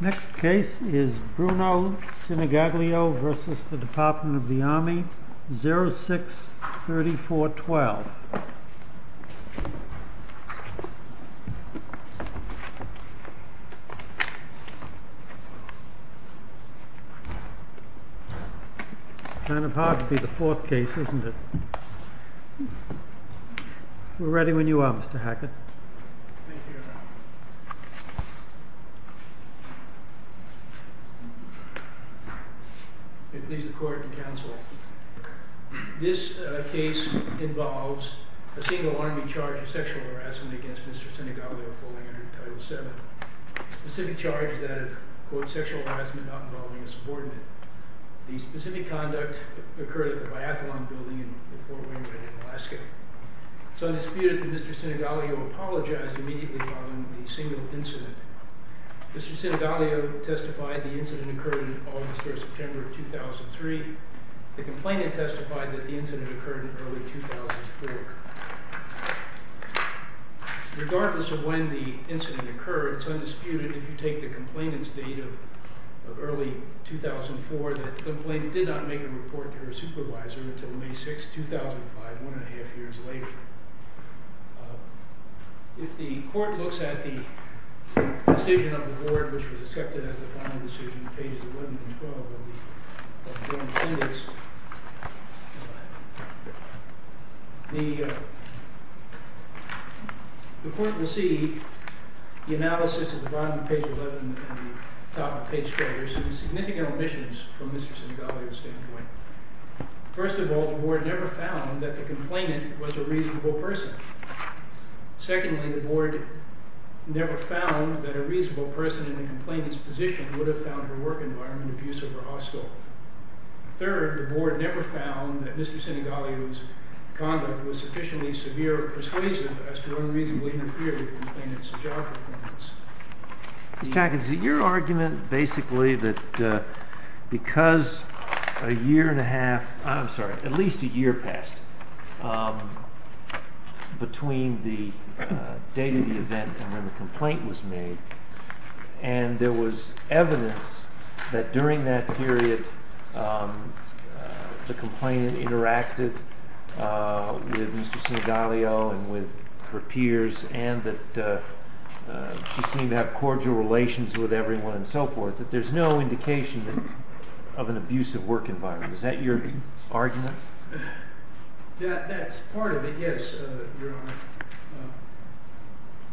Next case is Bruno Sinigaglio v. Army Next case is the Department of the Army, 06-3412 It's kind of hard to be the fourth case, isn't it? We're ready when you are, Mr. Hackett. This case involves a single Army charge of sexual harassment against Mr. Sinigaglio The specific charge is that of, quote, sexual harassment not involving a subordinate. The specific conduct occurred at the Biathlon building in Fort William County, Alaska. Some disputed that Mr. Sinigaglio apologized immediately following the single incident. Mr. Sinigaglio testified the incident occurred in August or September of 2003. The complainant testified that the incident occurred in early 2004. Regardless of when the incident occurred, it's undisputed if you take the complainant's date of early 2004 that the complainant did not make a report to her supervisor until May 6, 2005, one and a half years later. If the court looks at the decision of the board, which was accepted as the final decision, The court will see the analysis of the bottom of page 11 and the top of page 12. There are some significant omissions from Mr. Sinigaglio's standpoint. First of all, the board never found that the complainant was a reasonable person. Secondly, the board never found that a reasonable person in the complainant's position would have found her work environment abusive or hostile. Third, the board never found that Mr. Sinigaglio's conduct was sufficiently severe or persuasive as to unreasonably interfere with the complainant's job performance. Your argument basically that because a year and a half, I'm sorry, at least a year passed between the date of the event and when the complaint was made, and there was evidence that during that period the complainant interacted with Mr. Sinigaglio and with her peers and that she seemed to have cordial relations with everyone and so forth, that there's no indication of an abusive work environment. Is that your argument? That's part of it, yes, Your Honor.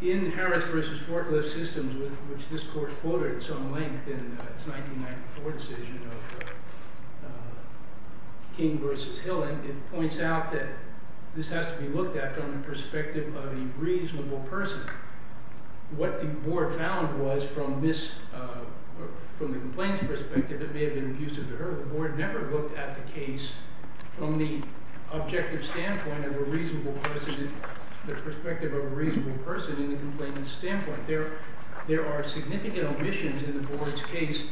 In Harris v. Forklift Systems, which this court quoted at some length in its 1994 decision of King v. Hillen, it points out that this has to be looked at from the perspective of a reasonable person. What the board found was from the complainant's perspective it may have been abusive to her. The board never looked at the case from the objective standpoint of a reasonable person in the complainant's standpoint. There are significant omissions in the board's case.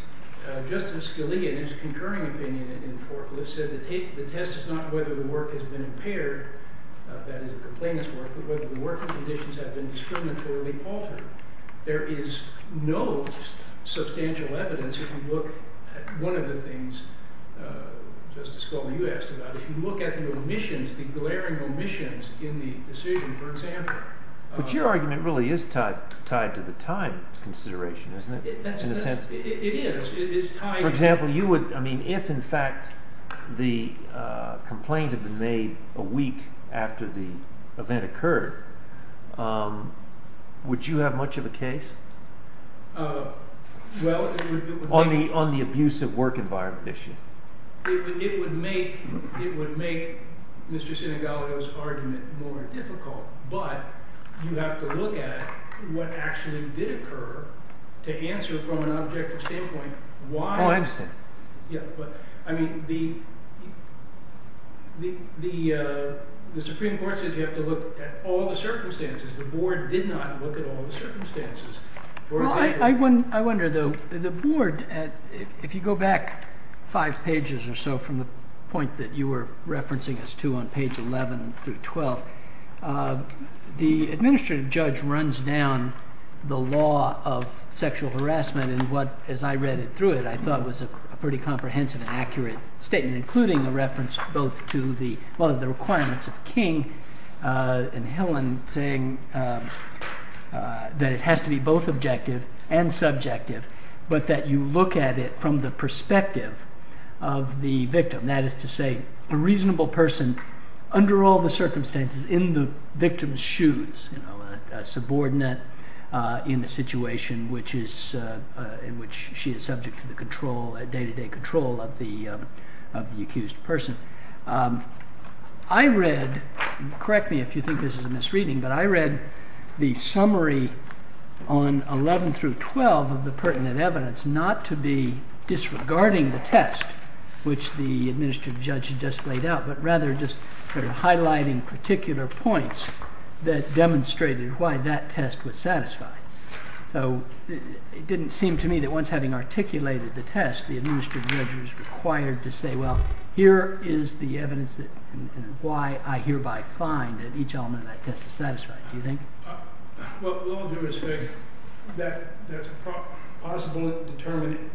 Justice Scalia, in his concurring opinion in Forklift, said the test is not whether the work has been impaired, that is the complainant's work, but whether the work conditions have been discriminatorily altered. There is no substantial evidence if you look at one of the things, Justice Scalia, you asked about, if you look at the omissions, the glaring omissions in the decision, for example. But your argument really is tied to the time consideration, isn't it, in a sense? It is. For example, if in fact the complaint had been made a week after the event occurred, would you have much of a case on the abusive work environment issue? It would make Mr. Sinegalio's argument more difficult, but you have to look at what actually did occur to answer from an objective standpoint why. Oh, I understand. I mean, the Supreme Court says you have to look at all the circumstances. The board did not look at all the circumstances. Well, I wonder, though, the board, if you go back five pages or so from the point that you were referencing us to on page 11 through 12, the administrative judge runs down the law of sexual harassment and what, as I read it through it, I thought was a pretty comprehensive and accurate statement, including the reference both to the requirements of King and Hillen saying that it has to be both objective and subjective, but that you look at it from the perspective of the victim. That is to say a reasonable person under all the circumstances in the victim's shoes, a subordinate in a situation in which she is subject to the day-to-day control of the accused person. I read, correct me if you think this is a misreading, but I read the summary on 11 through 12 of the pertinent evidence not to be disregarding the test, which the administrative judge had just laid out, but rather just sort of highlighting particular points that demonstrated why that test was satisfied. So it didn't seem to me that once having articulated the test, the administrative judge was required to say, well, here is the evidence and why I hereby find that each element of that test is satisfied. Do you think? Well, we'll all do what is fair. That's a possible and determined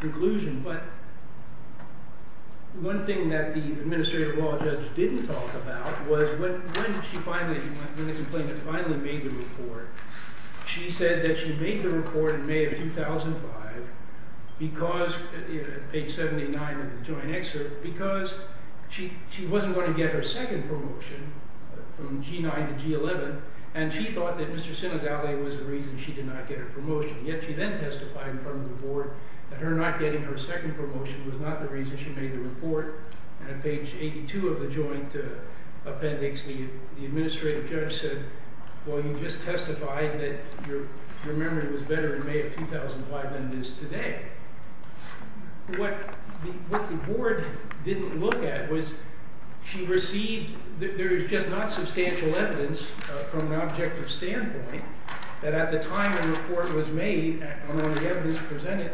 conclusion, but one thing that the administrative law judge didn't talk about was when she finally, when the complainant finally made the report, she said that she made the report in May of 2005 because, page 79 of the joint excerpt, because she wasn't going to get her second promotion from G9 to G11, and she thought that Mr. Sinodaly was the reason she did not get her promotion. Yet she then testified in front of the board that her not getting her second promotion was not the reason she made the report. And on page 82 of the joint appendix, the administrative judge said, well, you just testified that your memory was better in May of 2005 than it is today. What the board didn't look at was she received, there is just not substantial evidence from an objective standpoint, that at the time a report was made, among the evidence presented,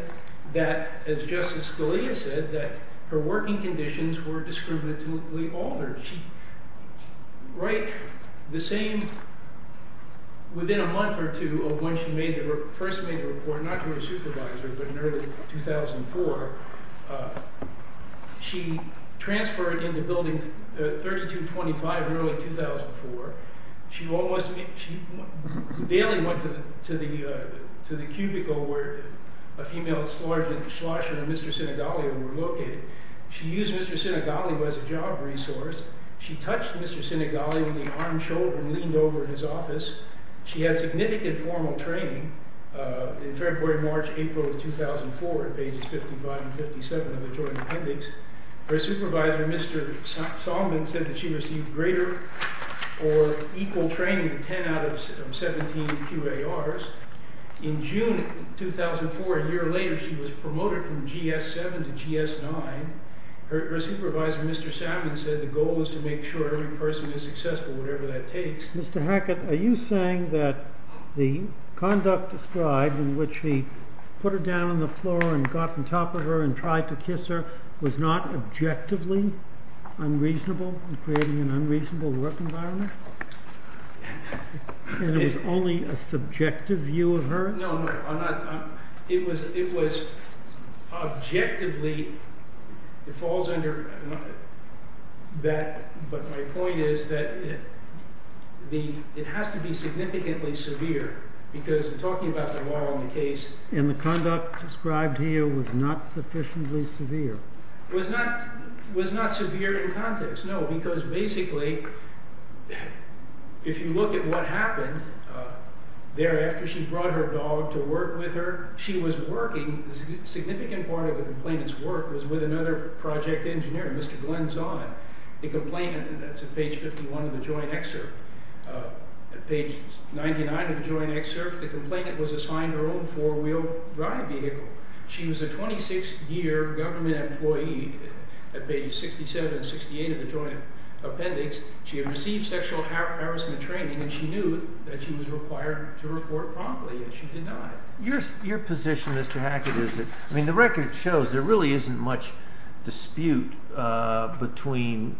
that, as Justice Scalia said, that her working conditions were discriminatively altered. Right, the same, within a month or two of when she first made the report, not to her supervisor, but in early 2004, she transferred into building 3225 in early 2004. She daily went to the cubicle where a female slosh and a Mr. Sinodaly were located. She used Mr. Sinodaly as a job resource. She touched Mr. Sinodaly with the arm, shoulder, and leaned over in his office. She had significant formal training in February, March, April of 2004, pages 55 and 57 of the joint appendix. Her supervisor, Mr. Solomon, said that she received greater or equal training than 10 out of 17 QARs. In June 2004, a year later, she was promoted from GS7 to GS9. Her supervisor, Mr. Salmon, said the goal was to make sure every person is successful, whatever that takes. Mr. Hackett, are you saying that the conduct described, in which he put her down on the floor and got on top of her and tried to kiss her, was not objectively unreasonable in creating an unreasonable work environment? And it was only a subjective view of her? No, no. I'm not. It was objectively. It falls under that. But my point is that it has to be significantly severe, because talking about the law and the case. And the conduct described here was not sufficiently severe? Was not severe in context, no. Because basically, if you look at what happened thereafter, she brought her dog to work with her. She was working. A significant part of the complainant's work was with another project engineer, Mr. Glenn Zahn, the complainant. That's at page 51 of the joint excerpt. At page 99 of the joint excerpt, the complainant was assigned her own four-wheel drive vehicle. She was a 26-year government employee. At pages 67 and 68 of the joint appendix, she had received sexual harassment training, and she knew that she was required to report promptly, and she did not. Your position, Mr. Hackett, is that, I mean, the record shows there really isn't much dispute between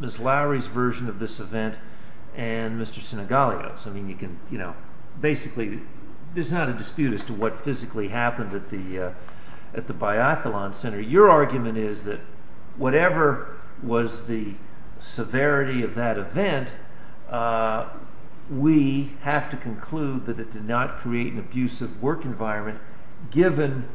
Ms. Lowry's version of this event and Mr. Sinigallio's. I mean, you can, you know, basically, there's not a dispute as to what physically happened at the Biathlon Center. Your argument is that whatever was the severity of that event, we have to conclude that it did not create an abusive work environment, given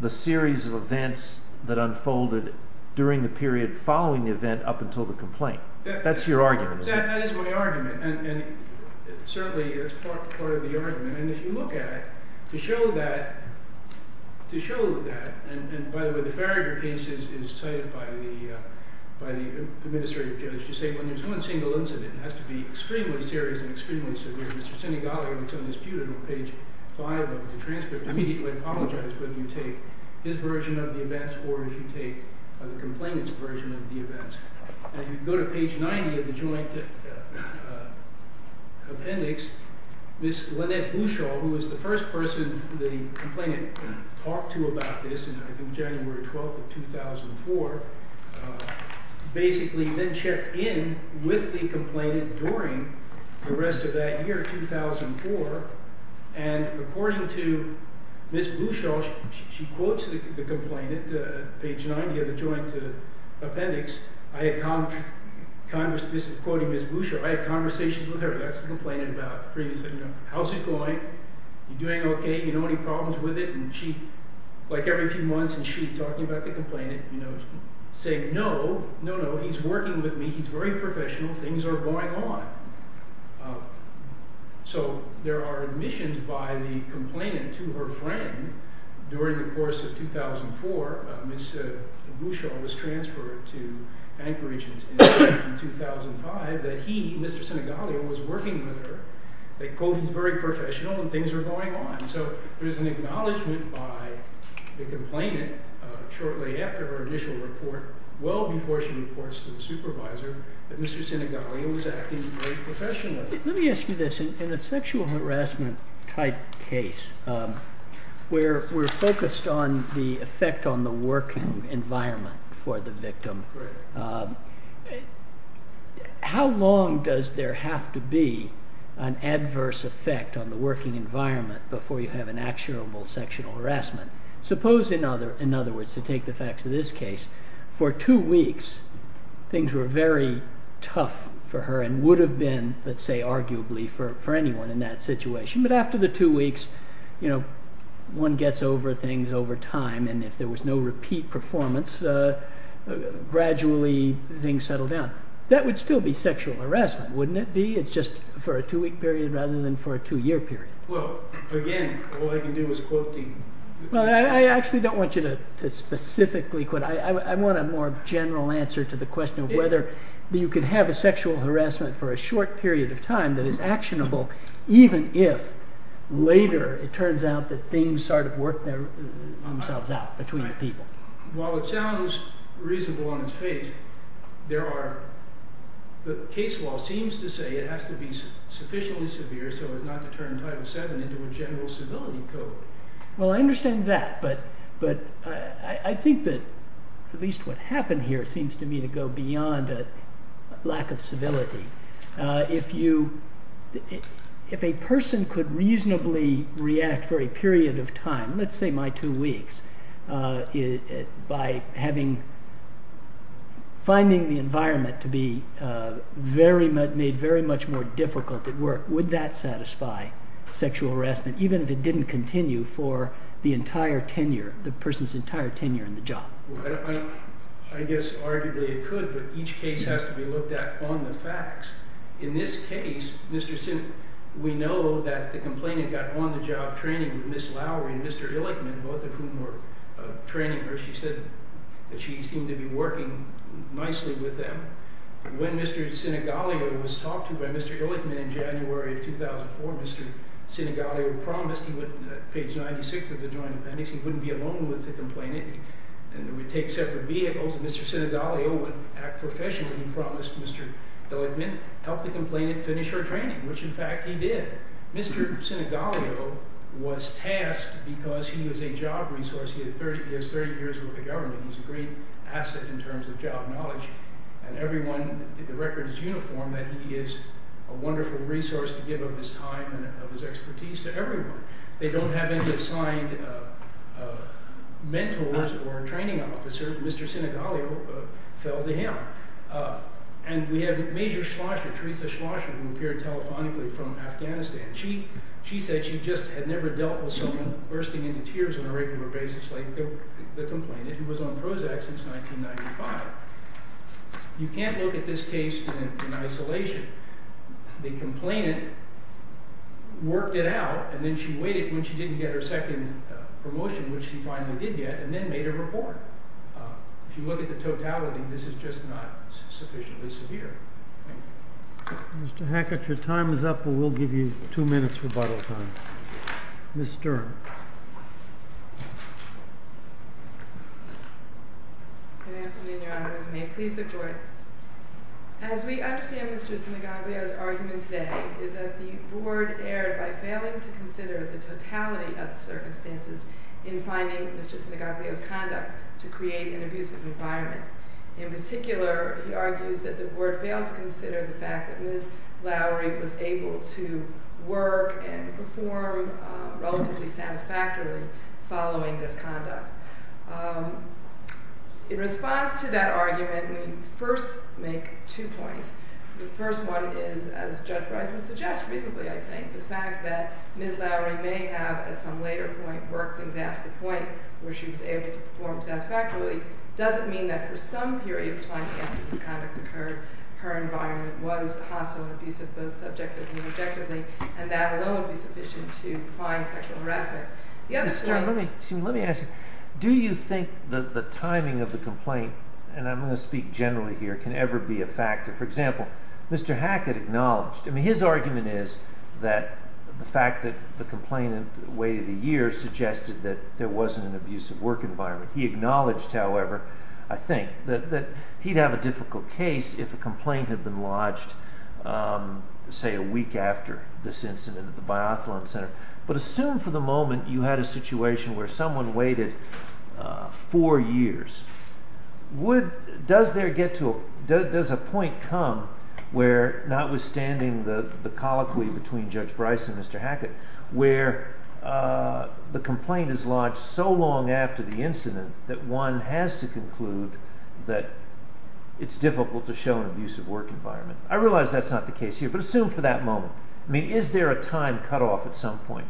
the series of events that unfolded during the period following the event up until the complaint. Well, that is my argument, and certainly it's part of the argument. And if you look at it, to show that – to show that – and by the way, the Farragher case is cited by the administrative judge to say when there's one single incident, it has to be extremely serious and extremely severe. Mr. Sinigallio, when it's on dispute, on page 5 of the transcript, immediately apologized whether you take his version of the events or if you take the complainant's version of the events. And if you go to page 90 of the joint appendix, Ms. Lynette Bouchard, who was the first person the complainant talked to about this, and I think January 12th of 2004, basically then checked in with the complainant during the rest of that year, 2004. And according to Ms. Bouchard, she quotes the complainant, page 90 of the joint appendix. I had – this is quoting Ms. Bouchard – I had conversations with her. That's the complainant about previously, you know, how's it going? You doing okay? You know any problems with it? And she, like every few months, and she talking about the complainant, you know, saying no, no, no, he's working with me. He's very professional. Things are going on. So there are admissions by the complainant to her friend during the course of 2004. Ms. Bouchard was transferred to Anchorage in 2005 that he, Mr. Sinegalia, was working with her. They quote he's very professional and things are going on. And so there is an acknowledgment by the complainant shortly after her initial report, well before she reports to the supervisor, that Mr. Sinegalia was acting very professionally. Let me ask you this. In a sexual harassment type case where we're focused on the effect on the working environment for the victim, how long does there have to be an adverse effect on the working environment before you have an actionable sexual harassment? Suppose, in other words, to take the facts of this case, for two weeks things were very tough for her and would have been, let's say arguably, for anyone in that situation, but after the two weeks, you know, one gets over things over time, and if there was no repeat performance, gradually things settle down. That would still be sexual harassment, wouldn't it be? It's just for a two-week period rather than for a two-year period. Well, again, all I can do is quote things. Well, I actually don't want you to specifically quote. I want a more general answer to the question of whether you can have a sexual harassment for a short period of time that is actionable even if later it turns out that things sort of work themselves out between the people. While it sounds reasonable on its face, the case law seems to say it has to be sufficiently severe so as not to turn Title VII into a general civility code. Well, I understand that, but I think that at least what happened here seems to me to go beyond a lack of civility. If a person could reasonably react for a period of time, let's say my two weeks, by finding the environment to be made very much more difficult at work, would that satisfy sexual harassment even if it didn't continue for the entire tenure, the person's entire tenure in the job? I guess arguably it could, but each case has to be looked at on the facts. In this case, we know that the complainant got on-the-job training with Ms. Lowery and Mr. Illichman, both of whom were training her. She said that she seemed to be working nicely with them. When Mr. Sinigalio was talked to by Mr. Illichman in January of 2004, Mr. Sinigalio promised – he went to page 96 of the Joint Appendix – he wouldn't be alone with the complainant. They would take separate vehicles, and Mr. Sinigalio would act professionally. He promised Mr. Illichman, help the complainant finish her training, which in fact he did. Mr. Sinigalio was tasked because he was a job resource. He has 30 years with the government. He's a great asset in terms of job knowledge, and everyone – the record is uniform that he is a wonderful resource to give of his time and of his expertise to everyone. They don't have any assigned mentors or training officers. Mr. Sinigalio fell to him. And we have Major Schlosser, Theresa Schlosser, who appeared telephonically from Afghanistan. She said she just had never dealt with someone bursting into tears on a regular basis like the complainant, who was on Prozac since 1995. You can't look at this case in isolation. The complainant worked it out, and then she waited when she didn't get her second promotion, which she finally did get, and then made a report. If you look at the totality, this is just not sufficiently severe. Thank you. Mr. Hackett, your time is up, and we'll give you two minutes rebuttal time. Ms. Stern. Good afternoon, Your Honor. As we understand Mr. Sinigalio's argument today is that the board erred by failing to consider the totality of the circumstances in finding Mr. Sinigalio's conduct to create an abusive environment. In particular, he argues that the board failed to consider the fact that Ms. Lowry was able to work and perform relatively satisfactorily following this conduct. In response to that argument, we first make two points. The first one is, as Judge Bryson suggests reasonably, I think, the fact that Ms. Lowry may have at some later point worked things out to the point where she was able to perform satisfactorily doesn't mean that for some period of time after this conduct occurred, her environment was hostile and abusive, both subjectively and objectively, and that alone would be sufficient to find sexual harassment. Ms. Stern, let me ask you, do you think the timing of the complaint, and I'm going to speak generally here, can ever be a factor? For example, Mr. Hackett acknowledged, I mean, his argument is that the fact that the complainant waited a year suggested that there wasn't an abusive work environment. He acknowledged, however, I think, that he'd have a difficult case if a complaint had been lodged, say, a week after this incident at the Biathlon Center. But assume for the moment you had a situation where someone waited four years. Does a point come where, notwithstanding the colloquy between Judge Bryson and Mr. Hackett, where the complaint is lodged so long after the incident that one has to conclude that it's difficult to show an abusive work environment? I realize that's not the case here, but assume for that moment. I mean, is there a time cutoff at some point?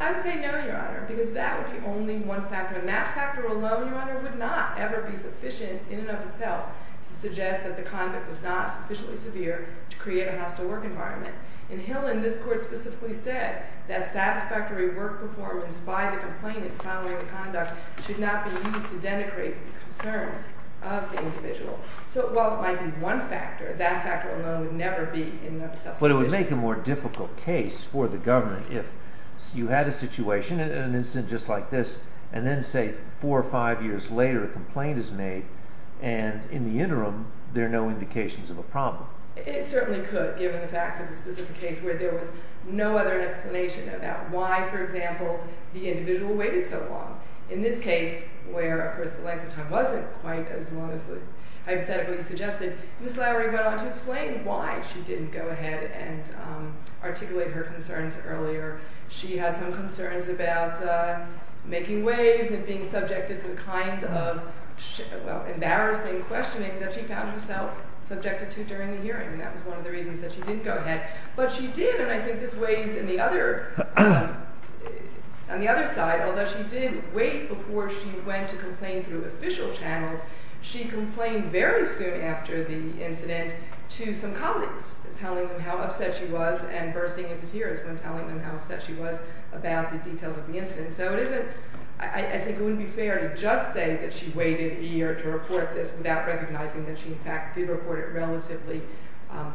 I would say no, Your Honor, because that would be only one factor. And that factor alone, Your Honor, would not ever be sufficient in and of itself to suggest that the conduct was not sufficiently severe to create a hostile work environment. In Hillen, this Court specifically said that satisfactory work performance by the complainant following the conduct should not be used to denigrate the concerns of the individual. So while it might be one factor, that factor alone would never be in and of itself sufficient. But it would make a more difficult case for the government if you had a situation, an incident just like this, and then, say, four or five years later, a complaint is made, and in the interim, there are no indications of a problem. It certainly could, given the facts of the specific case where there was no other explanation about why, for example, the individual waited so long. In this case, where, of course, the length of time wasn't quite as long as hypothetically suggested, Ms. Lowery went on to explain why she didn't go ahead and articulate her concerns earlier. She had some concerns about making waves and being subjected to the kind of embarrassing questioning that she found herself subjected to during the hearing, and that was one of the reasons that she didn't go ahead. But she did, and I think this weighs on the other side. Although she did wait before she went to complain through official channels, she complained very soon after the incident to some colleagues, telling them how upset she was and bursting into tears when telling them how upset she was about the details of the incident. And so it isn't – I think it wouldn't be fair to just say that she waited a year to report this without recognizing that she, in fact, did report it relatively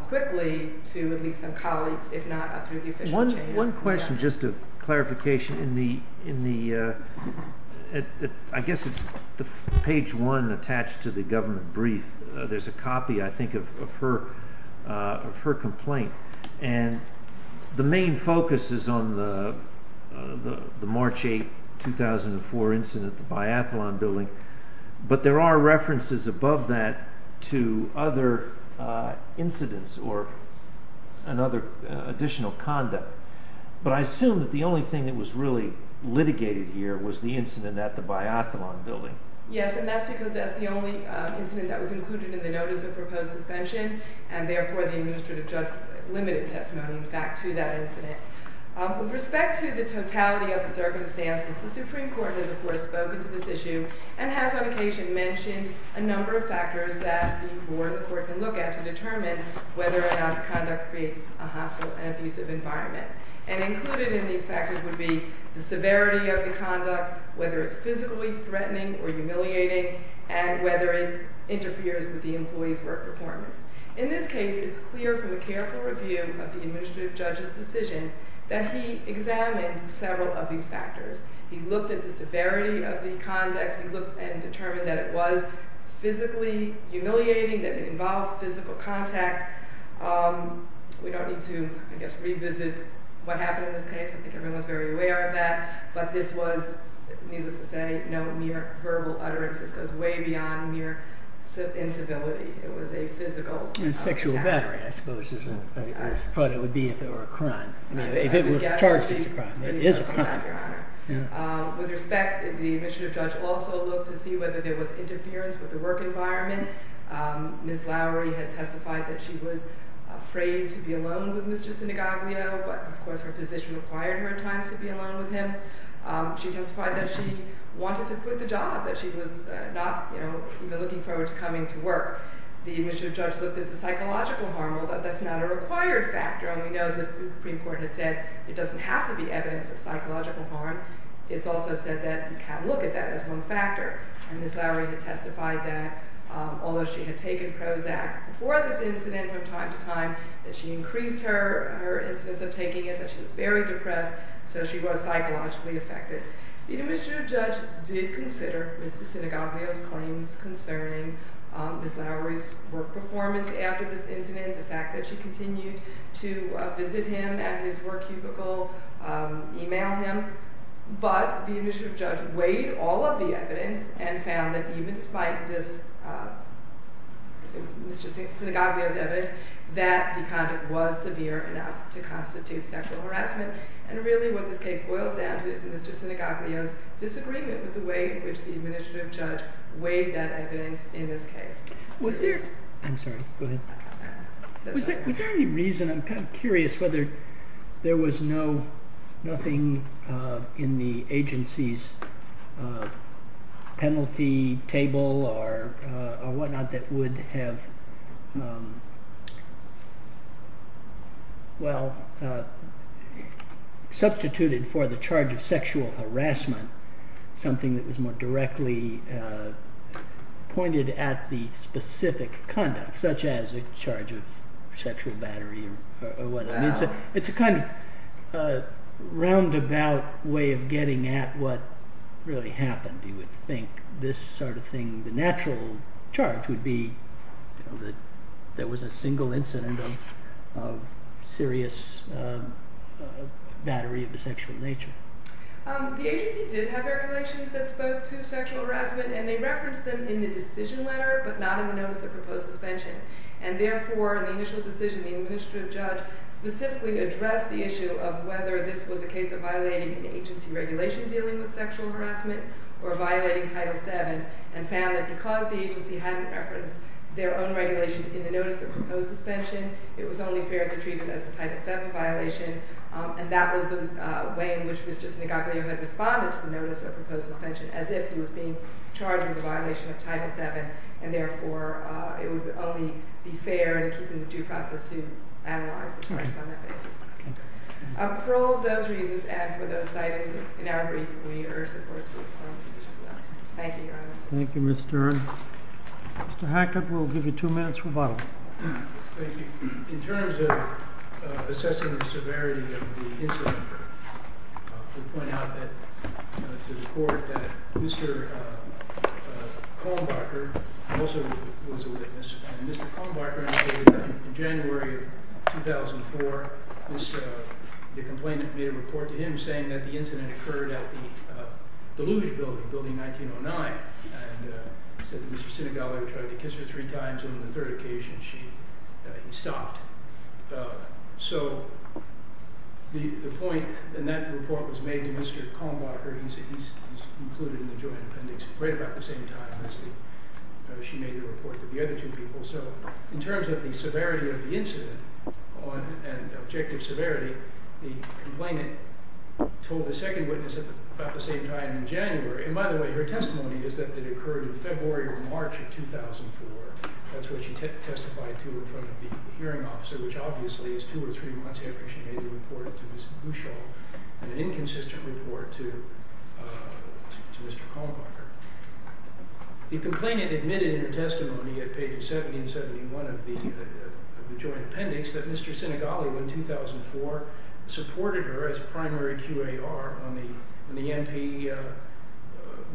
quickly to at least some colleagues, if not through the official channels. One question, just a clarification. In the – I guess it's page one attached to the government brief. There's a copy, I think, of her complaint. And the main focus is on the March 8, 2004 incident at the Biathlon Building, but there are references above that to other incidents or another additional conduct. But I assume that the only thing that was really litigated here was the incident at the Biathlon Building. Yes, and that's because that's the only incident that was included in the notice of proposed suspension, and therefore the administrative judge limited testimony, in fact, to that incident. With respect to the totality of the circumstances, the Supreme Court has, of course, spoken to this issue and has on occasion mentioned a number of factors that the board and the court can look at to determine whether or not the conduct creates a hostile and abusive environment. And included in these factors would be the severity of the conduct, whether it's physically threatening or humiliating, and whether it interferes with the employee's work performance. In this case, it's clear from a careful review of the administrative judge's decision that he examined several of these factors. He looked at the severity of the conduct. He looked and determined that it was physically humiliating, that it involved physical contact. We don't need to, I guess, revisit what happened in this case. I think everyone's very aware of that. But this was, needless to say, no mere verbal utterance. This goes way beyond mere incivility. It was a physical attack. Sexual battery, I suppose, is what it would be if it were a crime. If it were charged, it's a crime. It is a crime. With respect, the administrative judge also looked to see whether there was interference with the work environment. Ms. Lowery had testified that she was afraid to be alone with Mr. Sinagoglio. But, of course, her position required her at times to be alone with him. She testified that she wanted to quit the job, that she was not even looking forward to coming to work. The administrative judge looked at the psychological harm. That's not a required factor. We know the Supreme Court has said it doesn't have to be evidence of psychological harm. It's also said that you can't look at that as one factor. And Ms. Lowery had testified that, although she had taken Prozac before this incident from time to time, that she increased her incidence of taking it, that she was very depressed, so she was psychologically affected. The administrative judge did consider Mr. Sinagoglio's claims concerning Ms. Lowery's work performance after this incident. The fact that she continued to visit him at his work cubicle, email him. But the administrative judge weighed all of the evidence and found that even despite Mr. Sinagoglio's evidence, that the conduct was severe enough to constitute sexual harassment. And really what this case boils down to is Mr. Sinagoglio's disagreement with the way in which the administrative judge weighed that evidence in this case. I'm sorry, go ahead. Was there any reason, I'm kind of curious, whether there was nothing in the agency's penalty table or whatnot that would have, well, substituted for the charge of sexual harassment, something that was more directly pointed at the specific conduct, such as a charge of sexual battery or whatever. It's a kind of roundabout way of getting at what really happened, you would think. The natural charge would be that there was a single incident of serious battery of a sexual nature. The agency did have regulations that spoke to sexual harassment, and they referenced them in the decision letter, but not in the notice of proposed suspension. And therefore, in the initial decision, the administrative judge specifically addressed the issue of whether this was a case of violating an agency regulation dealing with sexual harassment or violating Title VII, and found that because the agency hadn't referenced their own regulation in the notice of proposed suspension, it was only fair to treat it as a Title VII violation. And that was the way in which Mr. Sinagoglio had responded to the notice of proposed suspension, as if he was being charged with a violation of Title VII, and therefore it would only be fair in keeping the due process to analyze the charges on that basis. For all of those reasons, and for those cited in our briefing, we urge the court to approve the decision letter. Thank you, Your Honor. Thank you, Ms. Duren. Mr. Hackett, we'll give you two minutes rebuttal. Thank you. In terms of assessing the severity of the incident, I would point out to the court that Mr. Kohlenbarger also was a witness. And Mr. Kohlenbarger, in January of 2004, the complainant made a report to him saying that the incident occurred at the Deluge Building, Building 1909, and said that Mr. Sinagoglio tried to kiss her three times, and on the third occasion, he stopped. So the point in that report was made to Mr. Kohlenbarger. He's included in the joint appendix right about the same time as she made the report to the other two people. So in terms of the severity of the incident and objective severity, the complainant told the second witness about the same time in January. And by the way, her testimony is that it occurred in February or March of 2004. That's what she testified to in front of the hearing officer, which obviously is two or three months after she made the report to Ms. Buschall, an inconsistent report to Mr. Kohlenbarger. The complainant admitted in her testimony at pages 70 and 71 of the joint appendix that Mr. Sinagoglio, in 2004, supported her as a primary QAR on the NP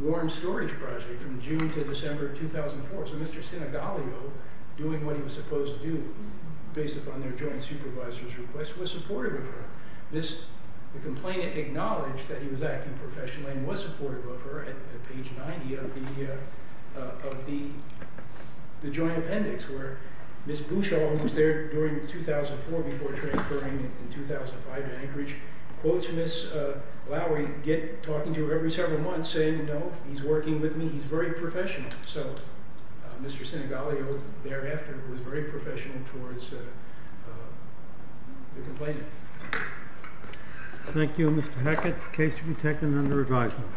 Warm Storage Project from June to December of 2004. So Mr. Sinagoglio, doing what he was supposed to do, based upon their joint supervisor's request, was supportive of her. The complainant acknowledged that he was acting professionally and was supportive of her at page 90 of the joint appendix, where Ms. Buschall, who was there during 2004 before transferring in 2005 to Anchorage, quotes Ms. Lowery, talking to her every several months, saying, no, he's working with me, he's very professional. So Mr. Sinagoglio, thereafter, was very professional towards the complainant. Thank you, Mr. Hackett. Case to be taken under advisement.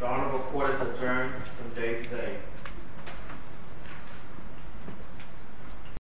The Honorable Court is adjourned from day to day.